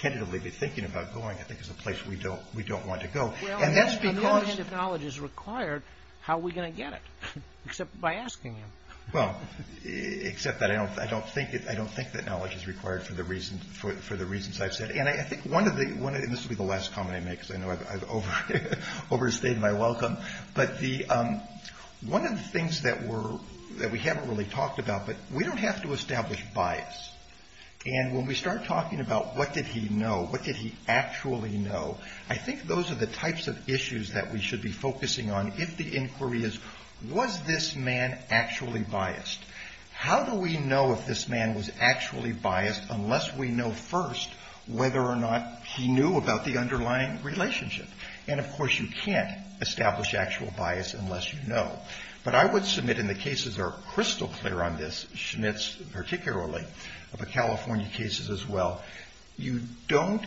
tentatively be thinking about going, I think, is a place we don't want to go. And that's because — Well, if knowledge is required, how are we going to get it, except by asking him? Well, except that I don't think that knowledge is required for the reasons I've said. And I think one of the — and this will be the last comment I make because I know I've overstayed my welcome. But one of the things that we haven't really talked about, but we don't have to establish bias. And when we start talking about what did he know, what did he actually know, I think those are the types of issues that we should be focusing on if the inquiry is, was this man actually biased? How do we know if this man was actually biased unless we know first whether or not he knew about the underlying relationship? And, of course, you can't establish actual bias unless you know. But I would submit, and the cases are crystal clear on this, Schmitz particularly, but California cases as well, you don't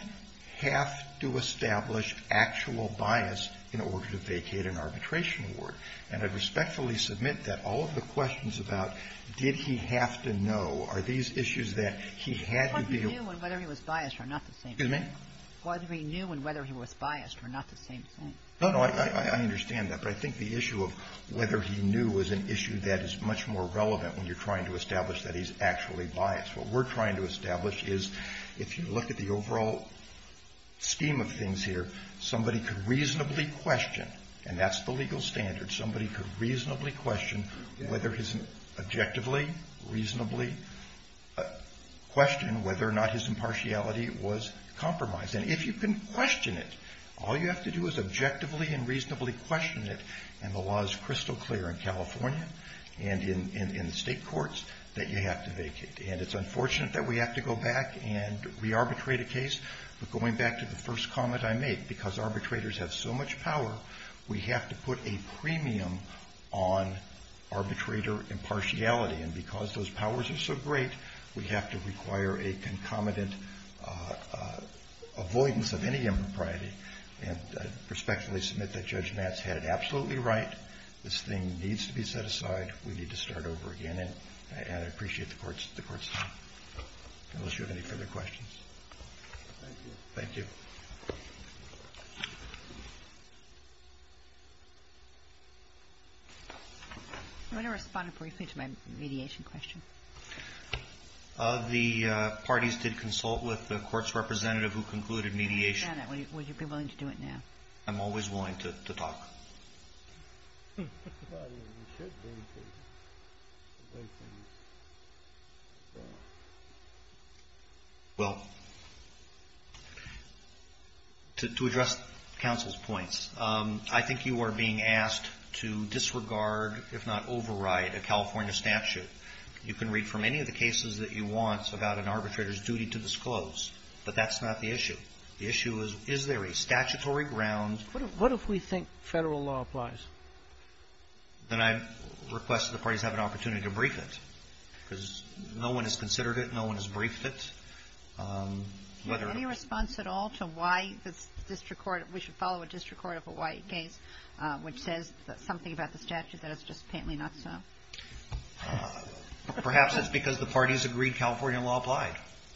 have to establish actual bias in order to vacate an arbitration award. And I'd respectfully submit that all of the questions about did he have to know are these issues that he had to be able to know. Kagan. What he knew and whether he was biased are not the same thing. Excuse me? Whether he knew and whether he was biased are not the same thing. No, no. I understand that. But I think the issue of whether he knew was an issue that is much more relevant when you're trying to establish that he's actually biased. What we're trying to establish is if you look at the overall scheme of things here, somebody could reasonably question, and that's the legal standard, somebody could reasonably question whether his, objectively, reasonably question whether or not his impartiality was compromised. And if you can question it, all you have to do is objectively and reasonably question it, and the law is crystal clear in California and in the state courts that you have to vacate. And it's unfortunate that we have to go back and re-arbitrate a case. But going back to the first comment I made, because arbitrators have so much power, we have to put a premium on arbitrator impartiality. And because those powers are so great, we have to require a concomitant avoidance of any impropriety. And I respectfully submit that Judge Nats had it absolutely right. This thing needs to be set aside. We need to start over again. And I appreciate the Court's time. Unless you have any further questions. Thank you. Thank you. I want to respond briefly to my mediation question. The parties did consult with the Court's representative who concluded mediation. Would you be willing to do it now? I'm always willing to talk. Well, to address counsel's points, I think you are being asked to disregard, if not override, a California statute. You can read from any of the cases that you want about an arbitrator's duty to disclose, but that's not the issue. The issue is, is there a statutory ground? What if we think Federal law applies? Then I request that the parties have an opportunity to brief it. Because no one has considered it. No one has briefed it. Do you have any response at all to why the district court, we should follow a district court of a white case, which says something about the statute that is just painfully not so? Perhaps it's because the parties agreed California law applied.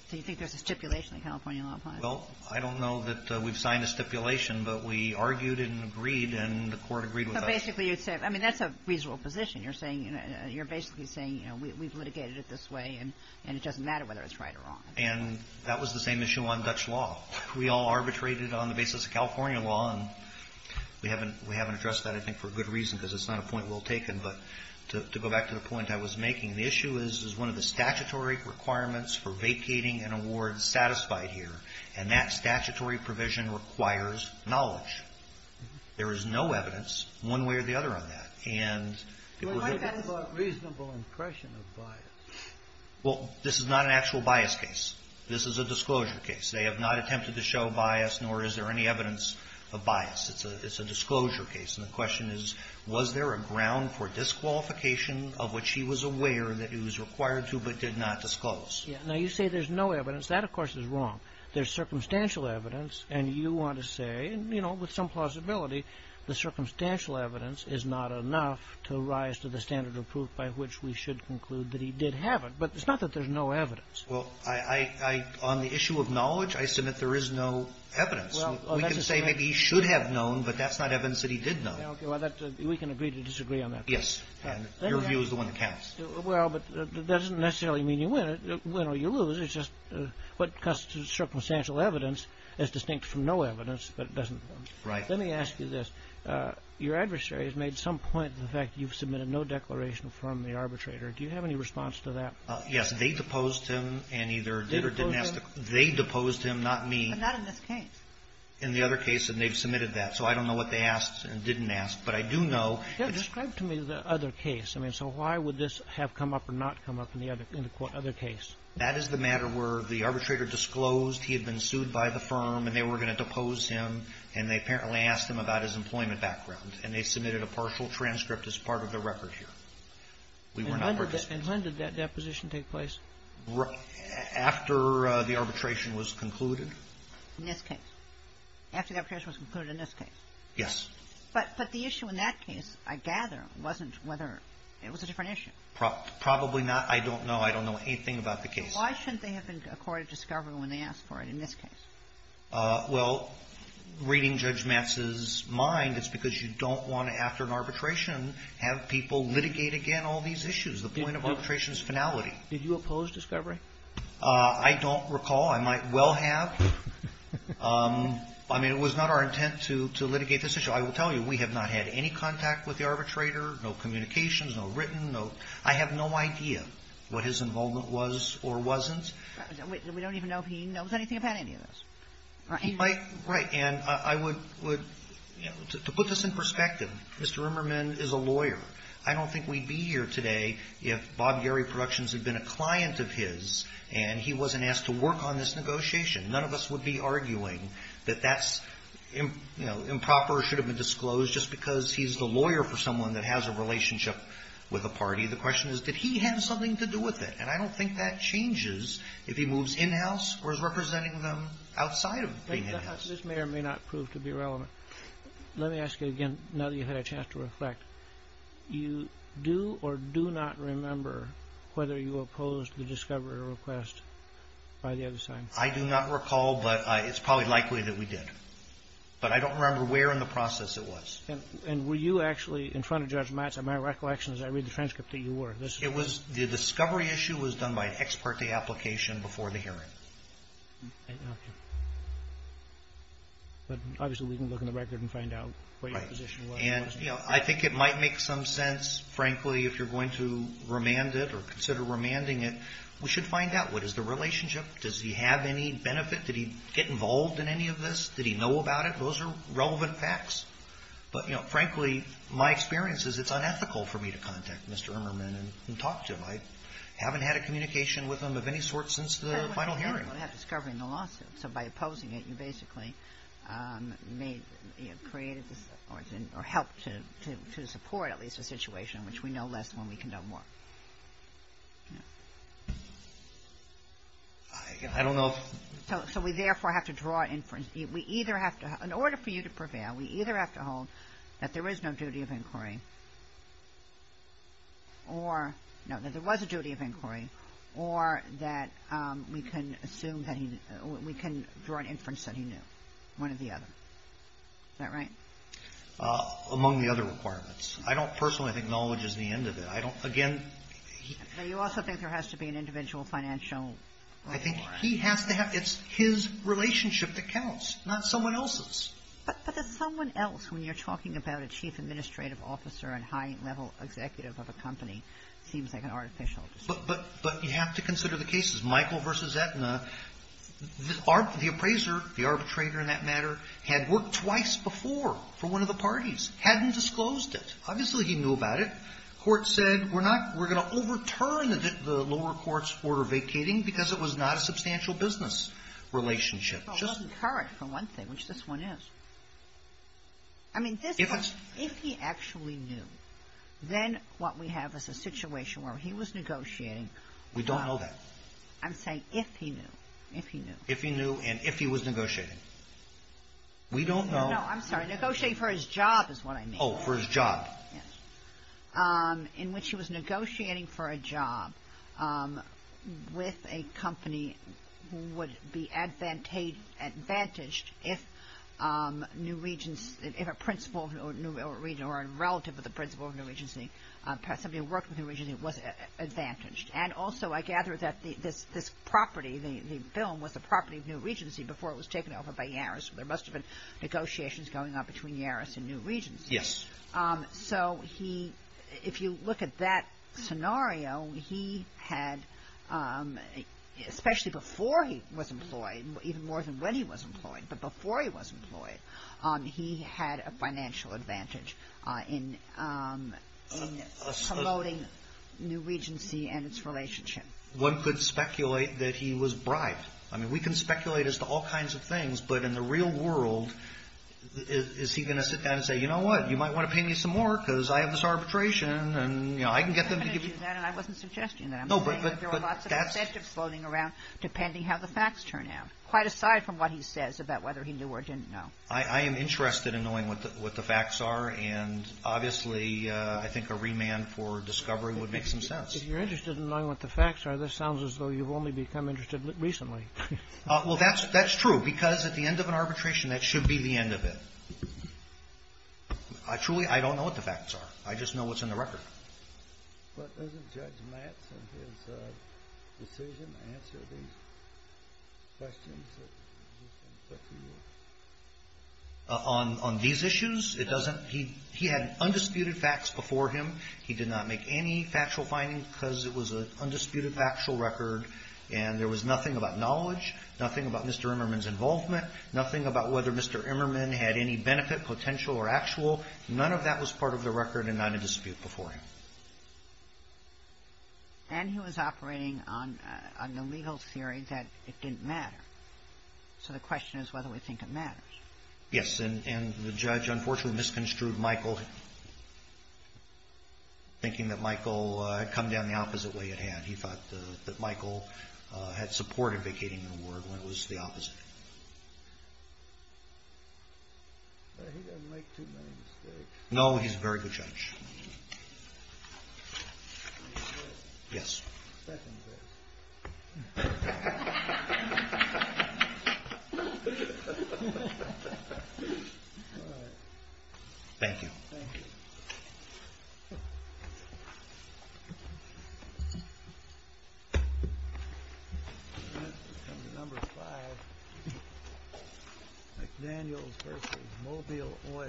So you think there's a stipulation that California law applies? Well, I don't know that we've signed a stipulation, but we argued and agreed and the Court agreed with us. So basically you'd say, I mean, that's a reasonable position. You're saying, you're basically saying, you know, we've litigated it this way and it doesn't matter whether it's right or wrong. And that was the same issue on Dutch law. We all arbitrated on the basis of California law, and we haven't addressed that, I think, for good reason, because it's not a point well taken. But to go back to the point I was making, the issue is, is one of the statutory requirements for vacating an award satisfied here, and that statutory provision requires knowledge. There is no evidence one way or the other on that. And it was a bit of a reasonable impression of bias. Well, this is not an actual bias case. This is a disclosure case. They have not attempted to show bias, nor is there any evidence of bias. It's a disclosure case. And the question is, was there a ground for disqualification of which he was aware that he was required to but did not disclose? Yes. Now, you say there's no evidence. That, of course, is wrong. There's circumstantial evidence, and you want to say, you know, with some plausibility, the circumstantial evidence is not enough to rise to the standard of proof by which we should conclude that he did have it. But it's not that there's no evidence. Well, I – on the issue of knowledge, I submit there is no evidence. We can say maybe he should have known, but that's not evidence that he did know. Okay. Well, we can agree to disagree on that. And your view is the one that counts. Well, but that doesn't necessarily mean you win it. Win or you lose. It's just what constitutes circumstantial evidence is distinct from no evidence, but it doesn't – Right. Let me ask you this. Your adversary has made some point of the fact you've submitted no declaration from the arbitrator. Do you have any response to that? Yes. They deposed him and either did or didn't ask the – They deposed him? They deposed him, not me. But not in this case. In the other case, and they've submitted that. So I don't know what they asked and didn't ask. But I do know it's – Describe to me the other case. I mean, so why would this have come up or not come up in the other case? That is the matter where the arbitrator disclosed he had been sued by the firm and they were going to depose him, and they apparently asked him about his employment background, and they submitted a partial transcript as part of the record here. And when did that deposition take place? After the arbitration was concluded. In this case? After the arbitration was concluded in this case? Yes. But the issue in that case, I gather, wasn't whether it was a different issue. Probably not. I don't know. I don't know anything about the case. Why shouldn't they have been accorded discovery when they asked for it in this case? Well, reading Judge Matz's mind, it's because you don't want to, after an arbitration, have people litigate again all these issues. The point of arbitration is finality. Did you oppose discovery? I don't recall. I might well have. I mean, it was not our intent to litigate this issue. I will tell you, we have not had any contact with the arbitrator, no communications, no written note. I have no idea what his involvement was or wasn't. We don't even know if he knows anything about any of this. Right. And I would put this in perspective. Mr. Rimmerman is a lawyer. I don't think we'd be here today if Bob Gary Productions had been a client of his and he wasn't asked to work on this negotiation. None of us would be arguing that that's improper or should have been disclosed just because he's the lawyer for someone that has a relationship with a party. The question is, did he have something to do with it? And I don't think that changes if he moves in-house or is representing them outside of being in-house. This may or may not prove to be relevant. Let me ask you again, now that you've had a chance to reflect. You do or do not remember whether you opposed the discovery request by the other side? I do not recall, but it's probably likely that we did. But I don't remember where in the process it was. And were you actually in front of Judge Matz at my recollection as I read the transcript that you were? The discovery issue was done by an ex parte application before the hearing. Okay. But obviously we can look in the record and find out what your position was. Right. And, you know, I think it might make some sense, frankly, if you're going to remand it or consider remanding it. We should find out. What is the relationship? Does he have any benefit? Did he get involved in any of this? Did he know about it? Those are relevant facts. But, you know, frankly, my experience is it's unethical for me to contact Mr. Emmerman and talk to him. I haven't had a communication with him of any sort since the final hearing. I don't think you're going to have discovery in the lawsuit. So by opposing it, you basically made, you know, created or helped to support at least a situation in which we know less than when we can know more. I don't know. So we therefore have to draw an inference. We either have to, in order for you to prevail, we either have to hold that there is no duty of inquiry or, no, that there was a duty of inquiry or that we can assume that he, we can draw an inference that he knew, one or the other. Is that right? Among the other requirements. I don't personally think knowledge is the end of it. I don't, again. But you also think there has to be an individual financial requirement. I think he has to have. It's his relationship that counts, not someone else's. But that someone else, when you're talking about a chief administrative officer and high-level executive of a company, seems like an artificial decision. But you have to consider the cases. Michael v. Aetna, the appraiser, the arbitrator in that matter, had worked twice before for one of the parties. Hadn't disclosed it. Obviously, he knew about it. Court said, we're not, we're going to overturn the lower court's order vacating because it was not a substantial business relationship. Just the current, for one thing, which this one is. I mean, this one, if he actually knew, then what we have is a situation where he was negotiating. We don't know that. I'm saying if he knew. If he knew. If he knew and if he was negotiating. We don't know. No, I'm sorry. Negotiating for his job is what I mean. Oh, for his job. Yes. In which he was negotiating for a job with a company who would be advantaged if New Regents, if a principal of New Regents or a relative of the principal of New Regency, somebody who worked with New Regency was advantaged. And also, I gather that this property, the film, was the property of New Regency before it was taken over by Yarris. There must have been negotiations going on between Yarris and New Regency. Yes. So he, if you look at that scenario, he had, especially before he was employed, even more than when he was employed, but before he was employed, he had a financial advantage in promoting New Regency and its relationship. One could speculate that he was bribed. I mean, we can speculate as to all kinds of things, but in the real world, is he going to sit down and say, you know what, you might want to pay me some more because I have this arbitration and, you know, I can get them to give you. I'm not going to do that and I wasn't suggesting that. No, but that's. I'm saying that there are lots of incentives floating around depending how the facts turn out, quite aside from what he says about whether he knew or didn't know. I am interested in knowing what the facts are, and obviously I think a remand for discovery would make some sense. If you're interested in knowing what the facts are, this sounds as though you've only become interested recently. Well, that's true, because at the end of an arbitration, that should be the end of it. Truly, I don't know what the facts are. I just know what's in the record. But doesn't Judge Matz in his decision answer these questions? On these issues, it doesn't. He had undisputed facts before him. He did not make any factual findings because it was an undisputed factual record and there was nothing about knowledge, nothing about Mr. Emmerman's involvement, nothing about whether Mr. Emmerman had any benefit, potential or actual. None of that was part of the record and not in dispute before him. And he was operating on the legal theory that it didn't matter. So the question is whether we think it matters. Yes, and the judge unfortunately misconstrued Michael, thinking that Michael had come down the opposite way he had. He thought that Michael had supported vacating the ward when it was the opposite. He doesn't make too many mistakes. No, he's a very good judge. Yes. Thank you. Thank you. Mobile oil. Thank you.